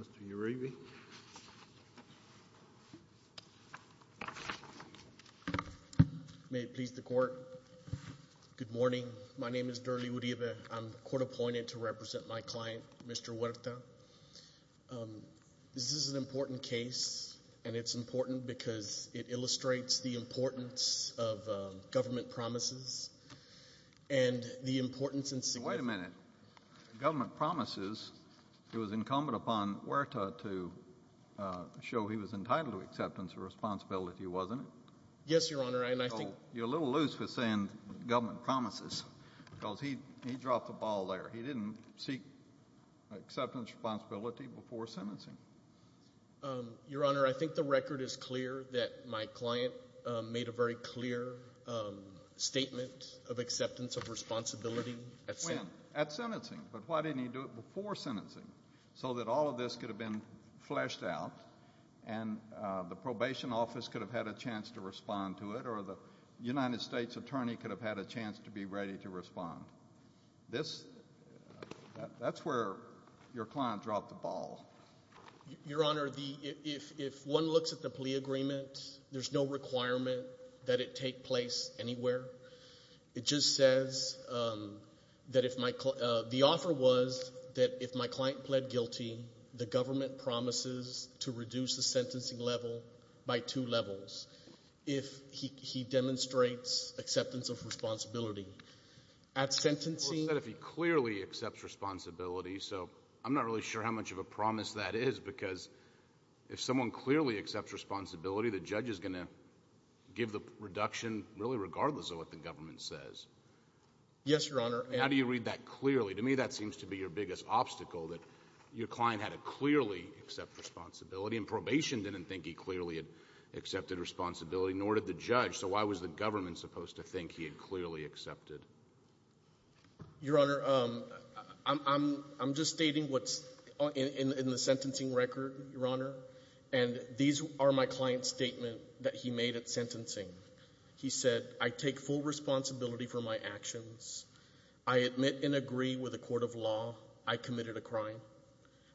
Mr. Uribe, may it please the court. Good morning. My name is Durley Uribe. I'm court appointed to represent my client, Mr. Huerta. This is an important case, and it's important because it illustrates the importance of government promises and the importance and significance of government promises. It was incumbent upon Huerta to show he was entitled to acceptance of responsibility, wasn't it? Yes, Your Honor, and I think — You're a little loose with saying government promises, because he dropped the ball there. He didn't seek acceptance responsibility before sentencing. Your Honor, I think the record is clear that my client a very clear statement of acceptance of responsibility at sentencing. When? At sentencing. But why didn't he do it before sentencing, so that all of this could have been fleshed out, and the probation office could have had a chance to respond to it, or the United States attorney could have had a chance to be ready to respond? This — that's where your client dropped the ball. Your Honor, the — if one looks at the plea agreement, there's no requirement that it take place anywhere. It just says that if my — the offer was that if my client pled guilty, the government promises to reduce the sentencing level by two levels if he demonstrates acceptance of responsibility. At sentencing — Well, it said if he clearly accepts responsibility, so I'm not really sure how much of a promise that is, because if someone clearly accepts responsibility, the judge is going to give the reduction really regardless of what the government says. Yes, Your Honor. How do you read that clearly? To me, that seems to be your biggest obstacle, that your client had to clearly accept responsibility, and probation didn't think he clearly had accepted responsibility, nor did the judge. So why was the government supposed to think he had clearly accepted? Your Honor, I'm — I'm just stating what's in the sentencing record, Your Honor, and these are my client's statement that he made at sentencing. He said, I take full responsibility for my actions. I admit and agree with the court of law I committed a crime.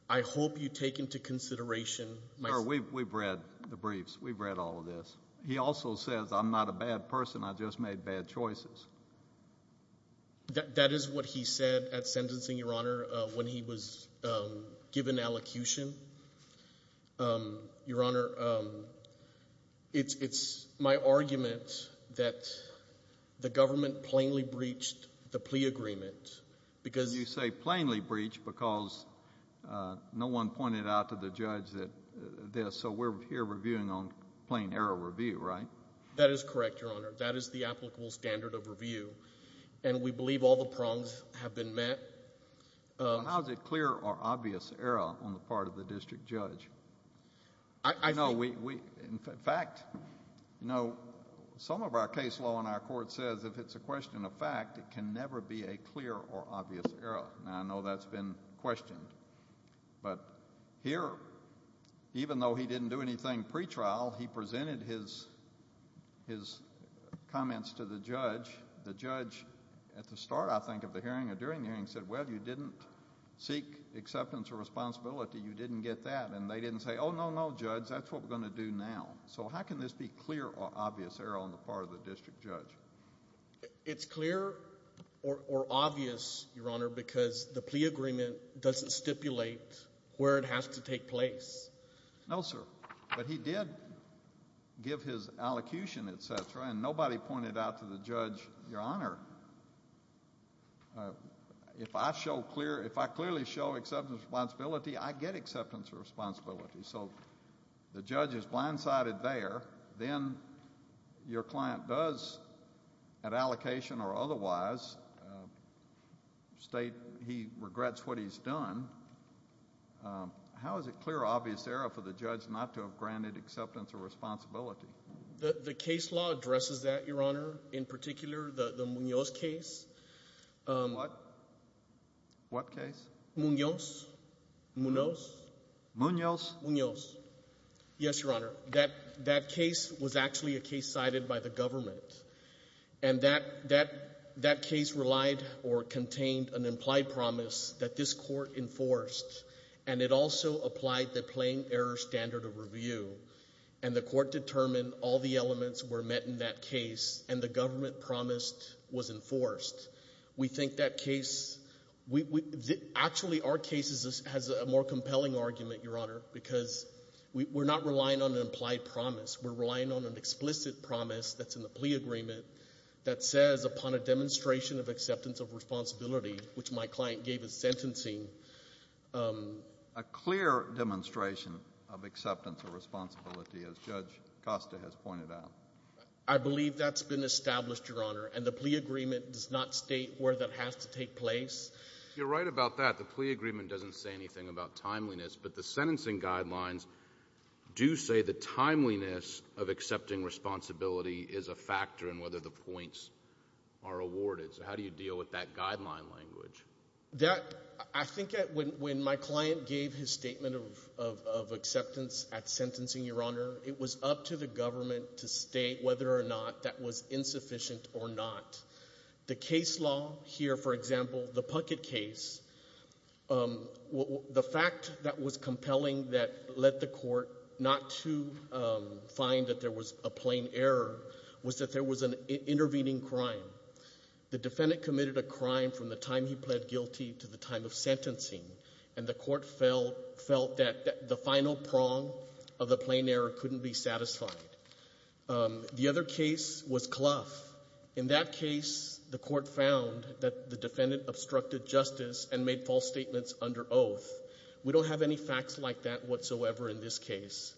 I hope you take into consideration my — Sir, we've read the briefs. We've read all of this. He also says, I'm not a bad person. I just made bad choices. That — that is what he said at sentencing, Your Honor, when he was given allocution. Your Honor, it's — it's my argument that the government plainly breached the plea agreement, because — You say plainly breached because no one pointed out to the judge that — this. So we're here reviewing on plain error review, right? That is correct, Your Honor. That is the applicable standard of review, and we believe all the prongs have been met. How is it clear or obvious error on the part of the district judge? I know we — in fact, you know, some of our case law in our court says if it's a question of fact, it can never be a clear or obvious error, and I know that's been questioned. But here, even though he didn't do anything pretrial, he presented his — his comments to the judge. The judge, at the start, I think, of the hearing or during the hearing, said, well, you didn't seek acceptance or responsibility. You didn't get that. And they didn't say, oh, no, no, judge, that's what we're going to do now. So how can this be clear or obvious error on the part of the district judge? It's clear or — or obvious, Your Honor, because the plea agreement doesn't stipulate where it has to take place. No, sir. But he did give his allocution, et cetera, and nobody pointed out to the judge, Your Honor, if I show clear — if I clearly show acceptance or responsibility, I get acceptance or responsibility. So the judge is blindsided there. Then your client does, at allocation or otherwise, state he regrets what he's done. How is it clear or obvious error for the judge not to have granted acceptance or responsibility? The — the case law addresses that, Your Honor, in particular, the — the Munoz case. What? What case? Munoz. Munoz. Munoz? Munoz. Yes, Your Honor. That — that case was actually a case cited by the government. And that — that — that case relied or contained an implied promise that this court enforced, and it also applied the plain error standard of review. And the court determined all the elements were met in that case, and the government promised was enforced. We think that case — we — we — actually, our case is — has a more compelling argument, Your Honor, because we — we're not relying on an implied promise. We're relying on an implied promise in the plea agreement that says, upon a demonstration of acceptance of responsibility, which my client gave as sentencing — A clear demonstration of acceptance of responsibility, as Judge Costa has pointed out. I believe that's been established, Your Honor. And the plea agreement does not state where that has to take place. You're right about that. The plea agreement doesn't say anything about timeliness. But the sentencing guidelines do say the timeliness of accepting responsibility is a factor in whether the points are awarded. So how do you deal with that guideline language? That — I think that when — when my client gave his statement of — of acceptance at sentencing, Your Honor, it was up to the government to state whether or not that was insufficient or not. The case law here, for example, the Puckett case, the fact that was compelling that led the court not to find that there was a plain error was that there was an intervening crime. The defendant committed a crime from the time he pled guilty to the time of sentencing. And the court felt — felt that the final prong of the plain error couldn't be satisfied. The other case was Clough. In that case, the court found that the defendant obstructed justice and made false statements under oath. We don't have any facts like that whatsoever in this case.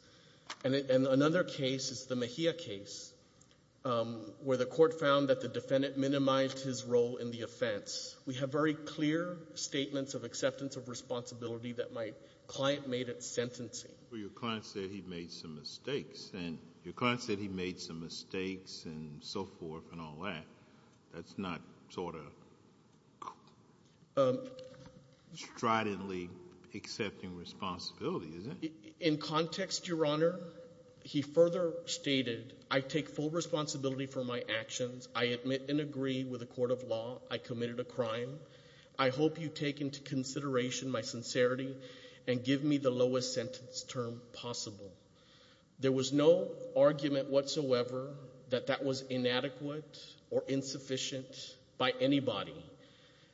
And another case is the Mejia case, where the court found that the defendant minimized his role in the offense. We have very clear statements of acceptance of responsibility that my client made at sentencing. But your client said he made some mistakes. And your client said he made some mistakes and so forth and all that. That's not sort of stridently accepting responsibility, is it? In context, Your Honor, he further stated, I take full responsibility for my actions. I admit and agree with the court of law I committed a crime. I hope you take into consideration my sincerity and give me the lowest sentence term possible. There was no argument whatsoever that that was inadequate or insufficient by anybody.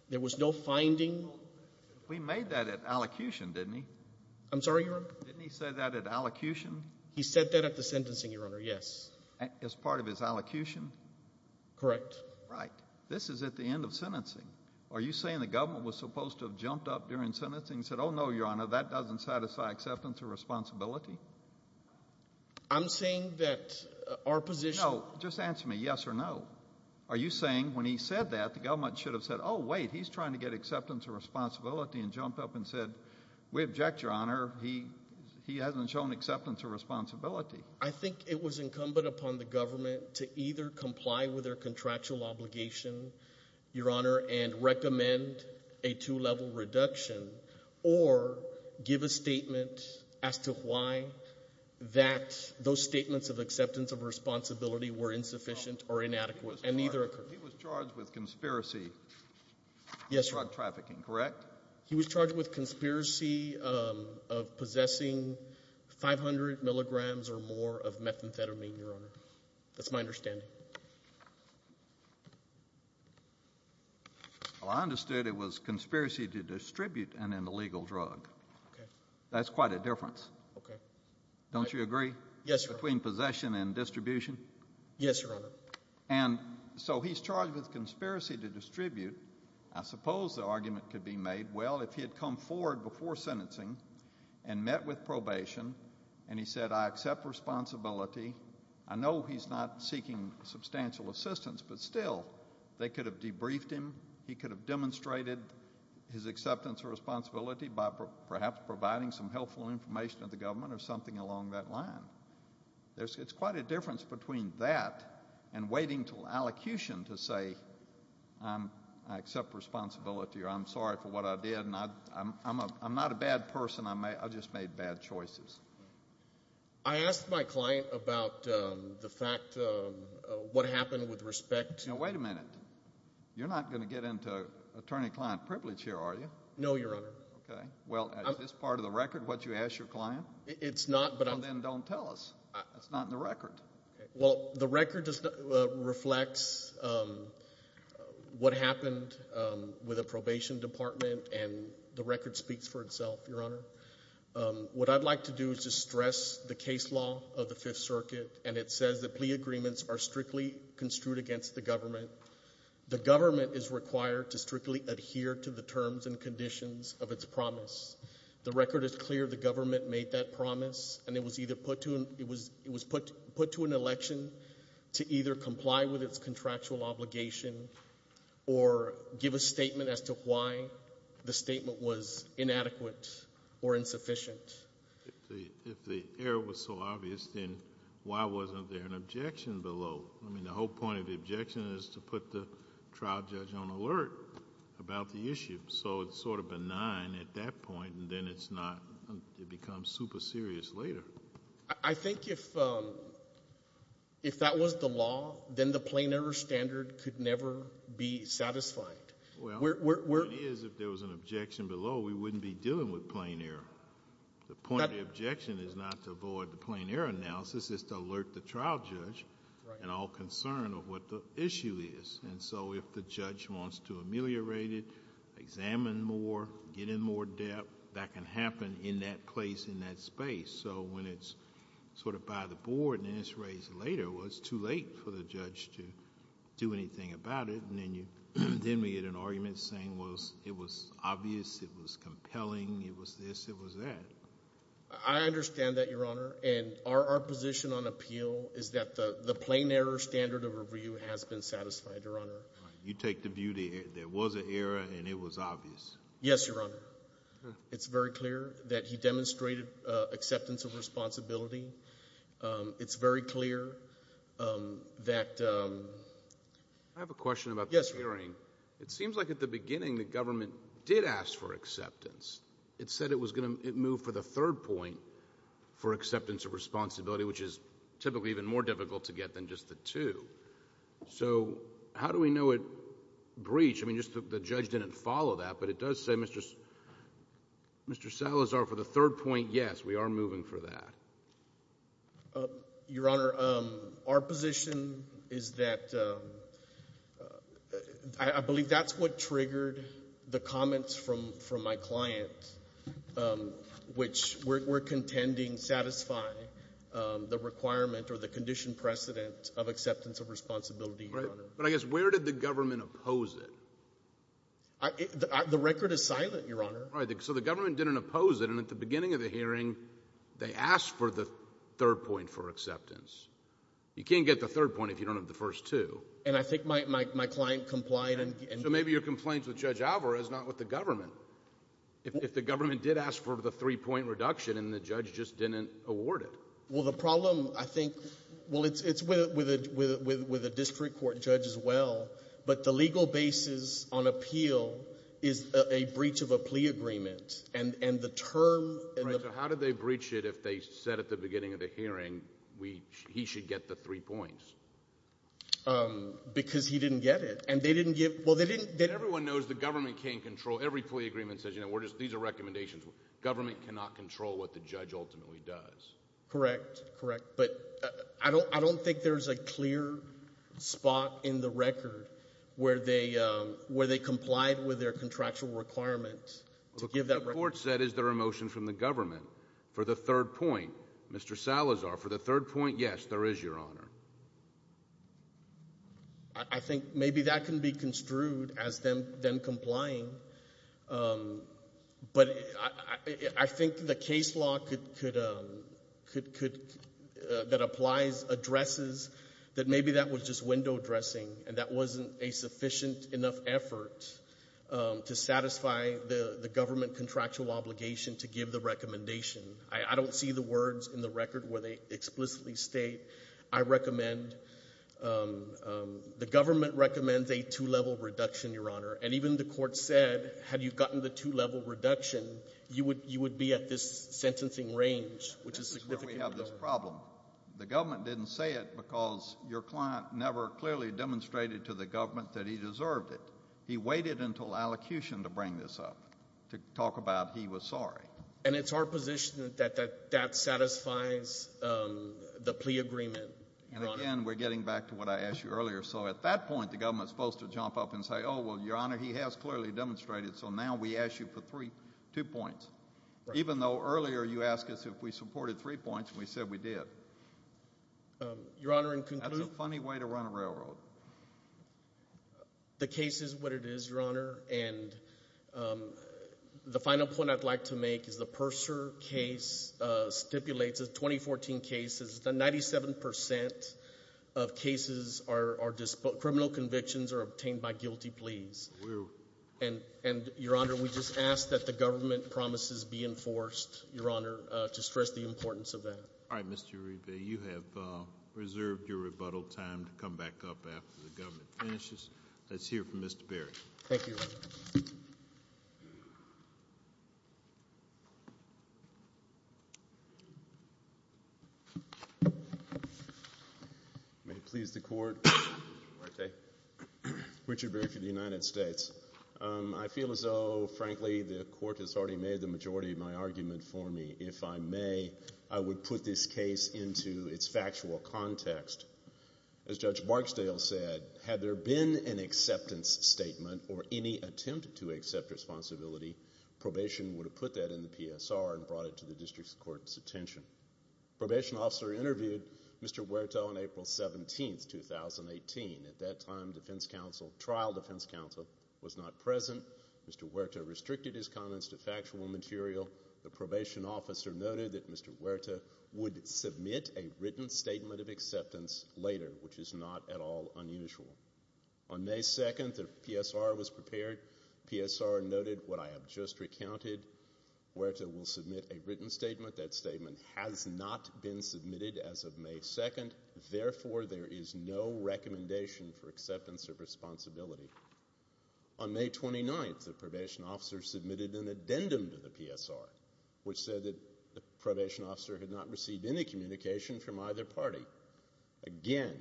There was no finding. We made that at allocution, didn't we? I'm sorry, Your Honor? Didn't he say that at allocution? He said that at the sentencing, Your Honor, yes. As part of his allocution? Correct. Right. This is at the end of sentencing. Are you saying the government was supposed to have jumped up during sentencing and said, oh, no, Your Honor, that doesn't satisfy acceptance of responsibility? I'm saying that our position... No. Just answer me, yes or no. Are you saying when he said that, the government should have said, oh, wait, he's trying to get acceptance of responsibility and jumped up and said, we object, Your Honor. He hasn't shown acceptance of responsibility. I think it was incumbent upon the government to either comply with their contractual obligation, Your Honor, and recommend a two-level reduction or give a statement as to why the government was not satisfied that those statements of acceptance of responsibility were insufficient or inadequate, and neither occurred. He was charged with conspiracy of drug trafficking, correct? Yes, Your Honor. He was charged with conspiracy of possessing 500 milligrams or more of methamphetamine, Your Honor. That's my understanding. Well, I understood it was conspiracy to distribute an illegal drug. Okay. That's quite a difference. Okay. Don't you agree? Yes, Your Honor. Between possession and distribution? Yes, Your Honor. And so he's charged with conspiracy to distribute. I suppose the argument could be made, well, if he had come forward before sentencing and met with probation and he said, I accept responsibility, I know he's not seeking substantial assistance, but still, they could have debriefed him, he could have demonstrated his acceptance of responsibility by perhaps providing some helpful information to the government or something along that line. It's quite a difference between that and waiting till allocution to say, I accept responsibility or I'm sorry for what I did, and I'm not a bad person, I just made bad choices. I asked my client about the fact, what happened with respect to... Now, wait a minute. You're not going to get into attorney-client privilege here, are you? No, Your Honor. Okay. Well, is this part of the record, what you asked your client? It's not, but I'm... Well, then don't tell us. It's not in the record. Well, the record just reflects what happened with a probation department, and the record speaks for itself, Your Honor. What I'd like to do is just stress the case law of the Fifth Circuit, and it says that plea agreements are strictly construed against the government. The government is required to strictly adhere to the terms and conditions of its promise. The record is clear the government made that promise, and it was either put to an election to either comply with its contractual obligation or give a statement as to why the statement was inadequate or insufficient. If the error was so obvious, then why wasn't there an objection below? I mean, the whole point of the objection is to put the trial judge on alert about the issue. So it's sort of benign at that point, and then it's not, it becomes super serious later. I think if that was the law, then the plain error standard could never be satisfied. Well, the point is, if there was an objection below, we wouldn't be dealing with plain error. The point of the objection is not to avoid the plain error analysis, it's to alert the general concern of what the issue is. And so if the judge wants to ameliorate it, examine more, get in more depth, that can happen in that place, in that space. So when it's sort of by the board, and then it's raised later, well, it's too late for the judge to do anything about it, and then you, then we get an argument saying, well, it was obvious, it was compelling, it was this, it was that. I understand that, Your Honor, and our position on appeal is that the plain error standard of review has been satisfied, Your Honor. You take the view that there was an error and it was obvious? Yes, Your Honor. It's very clear that he demonstrated acceptance of responsibility. It's very clear that — I have a question about the hearing. It seems like at the beginning the government did ask for acceptance. It said it was going to move for the third point for acceptance of responsibility, which is typically even more difficult to get than just the two. So how do we know it breached? I mean, just the judge didn't follow that, but it does say Mr. Salazar for the third point, yes, we are moving for that. Your Honor, our position is that — I believe that's what triggered the comments from my client, which we're contending satisfy the requirement or the conditioned precedent of acceptance of responsibility, Your Honor. Right. But I guess where did the government oppose it? The record is silent, Your Honor. Right. So the government didn't oppose it, and at the beginning of the hearing they asked for the third point for acceptance. You can't get the third point if you don't have the first two. And I think my client complied and — So maybe your complaint with Judge Alvarez is not with the government. If the government did ask for the three-point reduction and the judge just didn't award it. Well, the problem, I think — well, it's with a district court judge as well, but the legal basis on appeal is a breach of a plea agreement. And the term — Right. So how did they breach it if they said at the beginning of the hearing he should get the three points? Because he didn't get it. And they didn't give — Well, they didn't — Everyone knows the government can't control — every plea agreement says, you know, we're just — these are recommendations. Government cannot control what the judge ultimately does. Correct. Correct. But I don't think there's a clear spot in the record where they — where they complied with their contractual requirements to give that — But the court said, is there a motion from the government for the third point, Mr. Salazar, for the third point? Yes, there is, Your Honor. I think maybe that can be construed as them — them complying, but I think the case law could — could — that applies, addresses that maybe that was just window dressing and that wasn't a sufficient enough effort to satisfy the government contractual obligation to give the recommendation. I don't see the words in the record where they explicitly state. I recommend — the government recommends a two-level reduction, Your Honor. And even the court said, had you gotten the two-level reduction, you would — you would be at this sentencing range, which is significant. This is where we have this problem. The government didn't say it because your client never clearly demonstrated to the government that he deserved it. He waited until allocution to bring this up, to talk about he was sorry. And it's our position that that satisfies the plea agreement, Your Honor. And again, we're getting back to what I asked you earlier. So at that point, the government's supposed to jump up and say, oh, well, Your Honor, he has clearly demonstrated, so now we ask you for three — two points. Even though earlier you asked us if we supported three points, and we said we did. Your Honor, in conclusion — That's a funny way to run a railroad. The case is what it is, Your Honor. And the final point I'd like to make is the Purser case stipulates — the 2014 case — is that 97 percent of cases are — are — criminal convictions are obtained by guilty pleas. And, Your Honor, we just ask that the government promises be enforced, Your Honor, to stress the importance of that. All right. Mr. Uribe, you have reserved your rebuttal time to come back up after the government finishes. Let's hear from Mr. Berry. Thank you, Your Honor. May it please the Court. Mr. Marte. Richard Berry for the United States. I feel as though, frankly, the Court has already made the majority of my argument for me. If I may, I would put this case into its factual context. As Judge Barksdale said, had there been an acceptance statement or any attempt to accept responsibility, probation would have put that in the PSR and brought it to the District Court's attention. Probation officer interviewed Mr. Huerta on April 17, 2018. At that time, defense counsel — trial defense counsel — was not present. Mr. Huerta restricted his comments to factual material. The probation officer noted that Mr. Huerta would submit a written statement of acceptance later, which is not at all unusual. On May 2, the PSR was prepared. PSR noted what I have just recounted. Huerta will submit a written statement. That statement has not been submitted as of May 2. Therefore, there is no recommendation for acceptance of responsibility. On May 29, the probation officer submitted an addendum to the PSR, which said that the probation officer had not received any communication from either party. Again,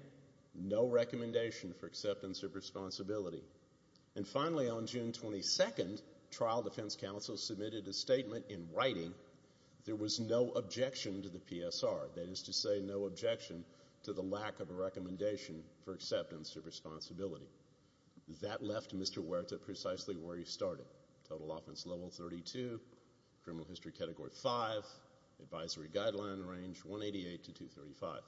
no recommendation for acceptance of responsibility. And finally, on June 22, trial defense counsel submitted a statement in writing. There was no objection to the PSR — that is to say, no objection to the lack of a recommendation for acceptance of responsibility. That left Mr. Huerta precisely where he started. Total offense level 32, criminal history category 5, advisory guideline range 188 to 235.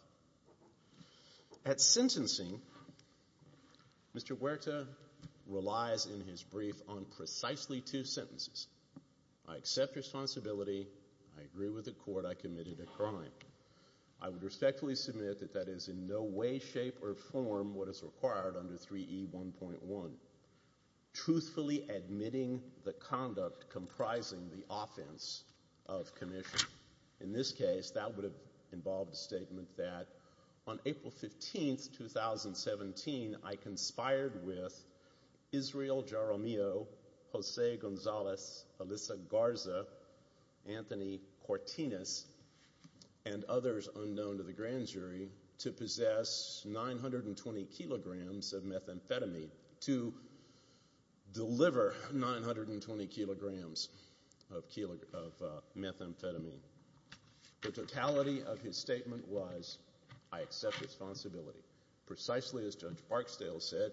At sentencing, Mr. Huerta relies in his brief on precisely two sentences. I accept responsibility. I agree with the court. I committed a crime. I would respectfully submit that that is in no way, shape, or form what is required under 3E1.1. Truthfully admitting the conduct comprising the offense of commission. In this case, that would have involved a statement that on April 15, 2017, I conspired with Israel Jaramillo, Jose Gonzalez, Alyssa Garza, Anthony Cortinez, and others unknown to the grand jury, to possess 920 kilograms of methamphetamine, to deliver 920 kilograms of methamphetamine. The totality of his statement was, I accept responsibility. Precisely as Judge Barksdale said,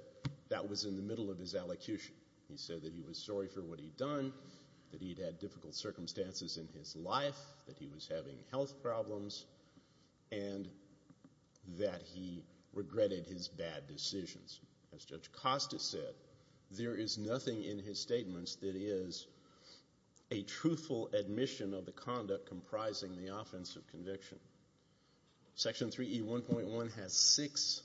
that was in the middle of his allocution. He said that he was sorry for what he'd done, that he'd had difficult circumstances in his life, that he was having health problems, and that he regretted his bad decisions. As Judge Costa said, there is nothing in his statements that is a truthful admission of the conduct comprising the offense of conviction. Section 3E1.1 has six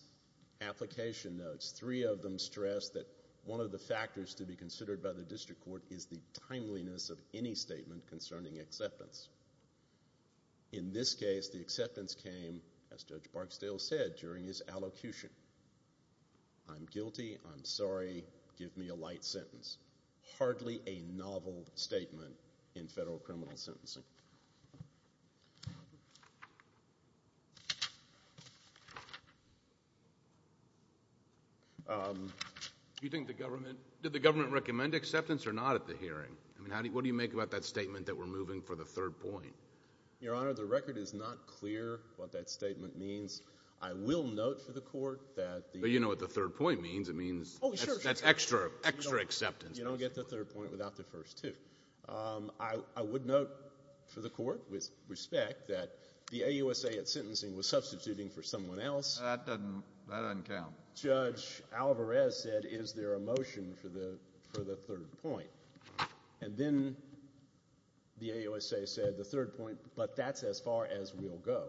application notes. Three of them stress that one of the factors to be considered by the district court is the timeliness of any statement concerning acceptance. In this case, the acceptance came, as Judge Barksdale said during his allocution, I'm guilty, I'm sorry, give me a light sentence. This is hardly a novel statement in federal criminal sentencing. Do you think the government, did the government recommend acceptance or not at the hearing? I mean, what do you make about that statement that we're moving for the third point? Your Honor, the record is not clear what that statement means. I will note for the court that the— But you know what the third point means. It means that's extra, extra acceptance basically. You don't get the third point without the first two. I would note for the court, with respect, that the AUSA at sentencing was substituting for someone else. That doesn't count. Judge Alvarez said, is there a motion for the third point? And then the AUSA said, the third point, but that's as far as we'll go.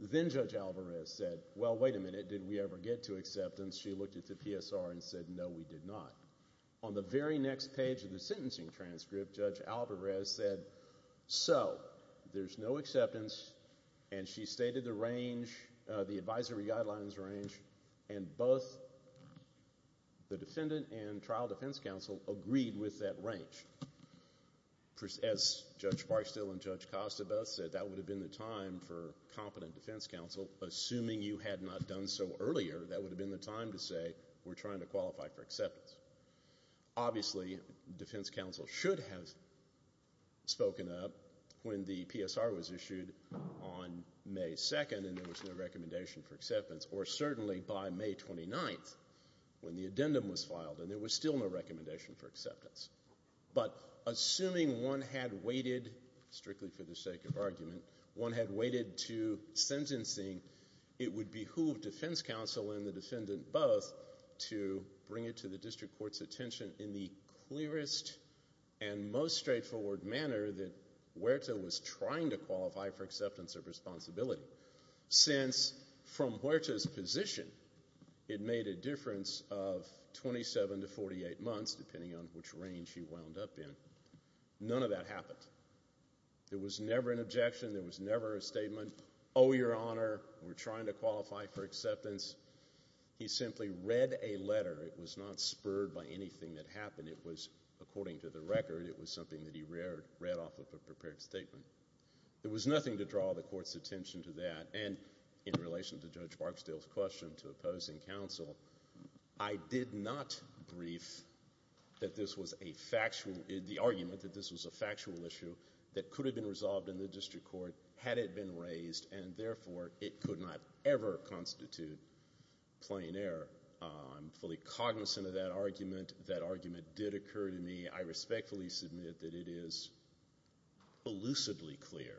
Then Judge Alvarez said, well, wait a minute, did we ever get to acceptance? She looked at the PSR and said, no, we did not. On the very next page of the sentencing transcript, Judge Alvarez said, so, there's no acceptance, and she stated the range, the advisory guidelines range, and both the defendant and trial defense counsel agreed with that range. As Judge Barstow and Judge Costa both said, that would have been the time for competent defense counsel. Assuming you had not done so earlier, that would have been the time to say, we're trying to qualify for acceptance. Obviously, defense counsel should have spoken up when the PSR was issued on May 2nd and there was no recommendation for acceptance, or certainly by May 29th when the addendum was filed and there was still no recommendation for acceptance. But assuming one had waited, strictly for the sake of argument, one had waited to sentencing, it would behoove defense counsel and the defendant both to bring it to the district court's attention in the clearest and most straightforward manner that Huerta was trying to qualify for acceptance of responsibility. Since, from Huerta's position, it made a difference of 27 to 48 months, depending on which range he wound up in. None of that happened. There was never an objection. There was never a statement, oh, your honor, we're trying to qualify for acceptance. He simply read a letter. It was not spurred by anything that happened. It was, according to the record, it was something that he read off of a prepared statement. There was nothing to draw the court's attention to that. And in relation to Judge Barksdale's question to opposing counsel, I did not brief that this was a factual, the argument that this was a factual issue that could have been resolved in the district court had it been raised and, therefore, it could not ever constitute plain error. I'm fully cognizant of that argument. That argument did occur to me. I respectfully submit that it is elusively clear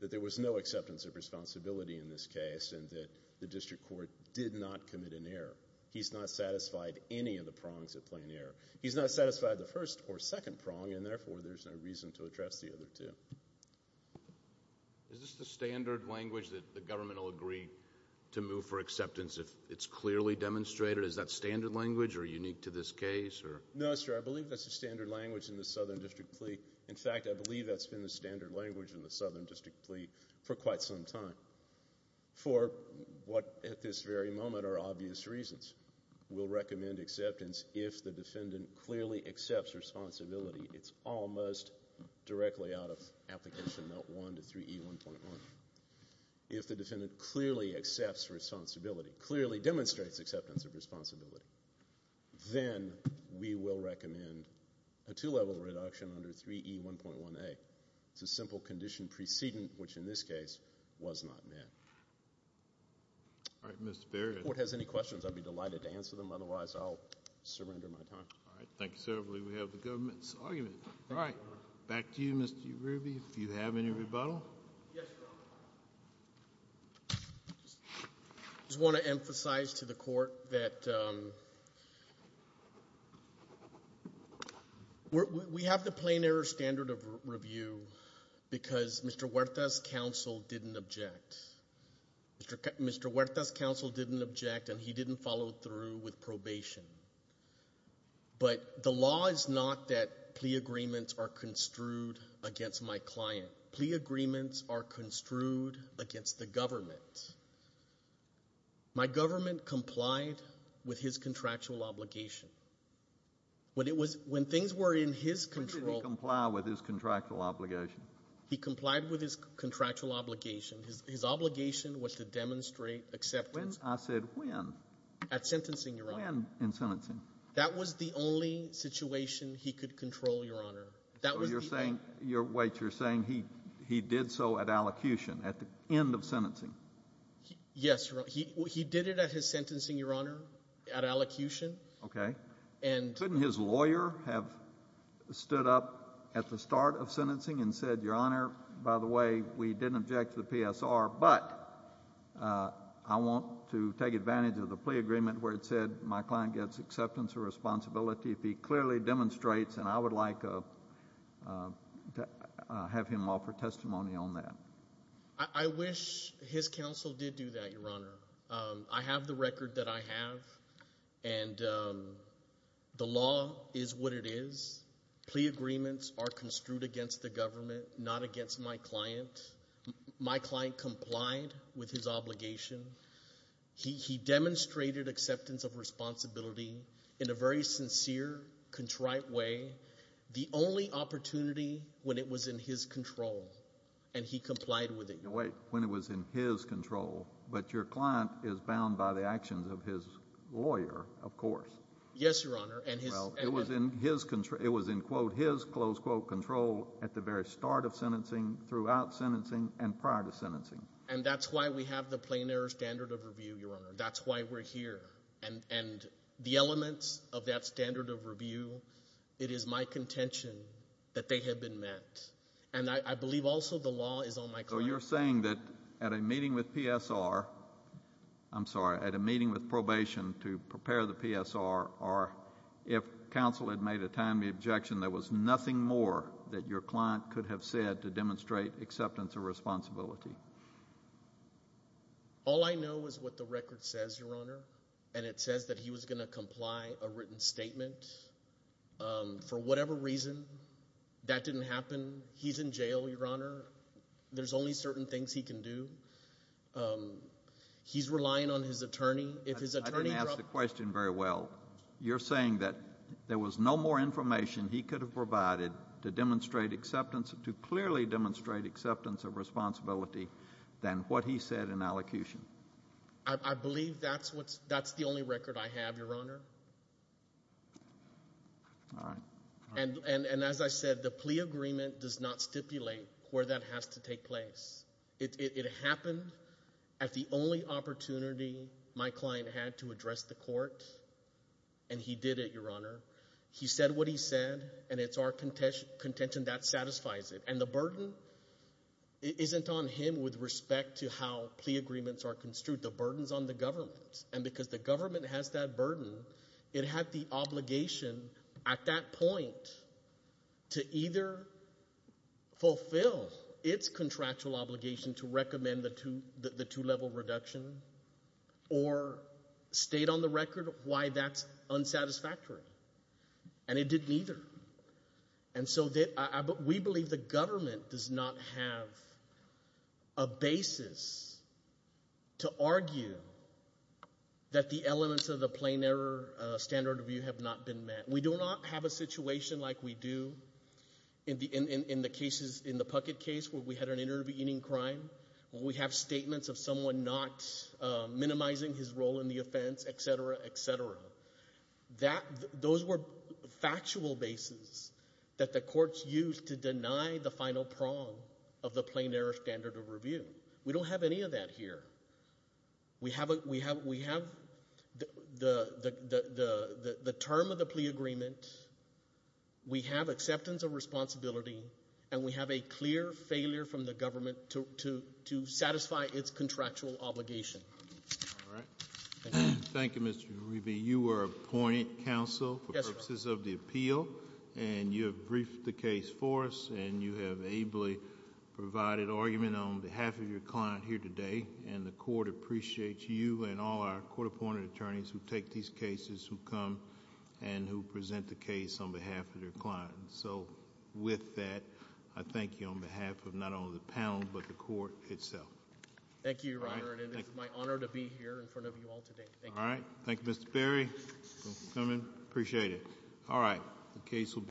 that there was no acceptance of responsibility in this case and that the district court did not commit an error. He's not satisfied any of the prongs of plain error. He's not satisfied the first or second prong, and, therefore, there's no reason to address the other two. Is this the standard language that the government will agree to move for acceptance if it's clearly demonstrated? Is that standard language or unique to this case? No, sir. I believe that's the standard language in the Southern District plea. In fact, I believe that's been the standard language in the Southern District plea for quite some time for what at this very moment are obvious reasons. We'll recommend acceptance if the defendant clearly accepts responsibility. It's almost directly out of Application Note 1 to 3E1.1. If the defendant clearly accepts responsibility, clearly demonstrates acceptance of responsibility, then we will recommend a two-level reduction under 3E1.1a. It's a simple condition precedent, which in this case was not met. All right, Mr. Baird. If the court has any questions, I'd be delighted to answer them. Otherwise, I'll surrender my time. All right. Thank you, sir. I believe we have the government's argument. All right. Back to you, Mr. Ruby, if you have any rebuttal. Yes, Your Honor. I just want to emphasize to the court that we have the plain error standard of review because Mr. Huerta's counsel didn't object. Mr. Huerta's counsel didn't object, and he didn't follow through with probation. But the law is not that plea agreements are construed against my client. Plea agreements are construed against the government. My government complied with his contractual obligation. When things were in his control. When did he comply with his contractual obligation? He complied with his contractual obligation. His obligation was to demonstrate acceptance. When? I said when? At sentencing, Your Honor. When in sentencing? That was the only situation he could control, Your Honor. So you're saying he did so at allocution, at the end of sentencing? Yes, Your Honor. He did it at his sentencing, Your Honor, at allocution. Okay. Couldn't his lawyer have stood up at the start of sentencing and said, Your Honor, by the way, we didn't object to the PSR, but I want to take advantage of the plea agreement where it said my client gets acceptance of responsibility if he clearly demonstrates, and I would like to have him offer testimony on that. I wish his counsel did do that, Your Honor. I have the record that I have, and the law is what it is. Plea agreements are construed against the government, not against my client. My client complied with his obligation. He demonstrated acceptance of responsibility in a very sincere, contrite way, the only opportunity when it was in his control, and he complied with it. Wait. When it was in his control, but your client is bound by the actions of his lawyer, of course. Yes, Your Honor. It was in his control at the very start of sentencing, throughout sentencing, and prior to sentencing. And that's why we have the plein air standard of review, Your Honor. That's why we're here. And the elements of that standard of review, it is my contention that they have been met. And I believe also the law is on my client. So you're saying that at a meeting with PSR, I'm sorry, at a meeting with probation to prepare the PSR, or if counsel had made a timely objection, there was nothing more that your client could have said to demonstrate acceptance of responsibility? All I know is what the record says, Your Honor. And it says that he was going to comply a written statement. For whatever reason, that didn't happen. He's in jail, Your Honor. There's only certain things he can do. He's relying on his attorney. If his attorney were up— I didn't ask the question very well. But you're saying that there was no more information he could have provided to clearly demonstrate acceptance of responsibility than what he said in allocution? I believe that's the only record I have, Your Honor. All right. And as I said, the plea agreement does not stipulate where that has to take place. It happened at the only opportunity my client had to address the court, and he did it, Your Honor. He said what he said, and it's our contention that satisfies it. And the burden isn't on him with respect to how plea agreements are construed. The burden is on the government. And because the government has that burden, it had the obligation at that point to either fulfill its contractual obligation to recommend the two-level reduction or state on the record why that's unsatisfactory. And it didn't either. And so we believe the government does not have a basis to argue that the elements of the plain error standard of view have not been met. We do not have a situation like we do in the cases in the Puckett case where we had an intervening crime, where we have statements of someone not minimizing his role in the offense, et cetera, et cetera. Those were factual bases that the courts used to deny the final prong of the plain error standard of review. We don't have any of that here. We have the term of the plea agreement. We have acceptance of responsibility, and we have a clear failure from the government to satisfy its contractual obligation. All right. Thank you. Mr. Ruby, you were appointed counsel for purposes of the appeal, and you have briefed the case for us, and you have ably provided argument on behalf of your client here today, and the court appreciates you and all our court-appointed attorneys who take these cases, who come, and who present the case on behalf of their client. So with that, I thank you on behalf of not only the panel but the court itself. Thank you, Your Honor, and it is my honor to be here in front of you all today. All right. Thank you, Mr. Berry. Thank you for coming. Appreciate it. All right. The case will be-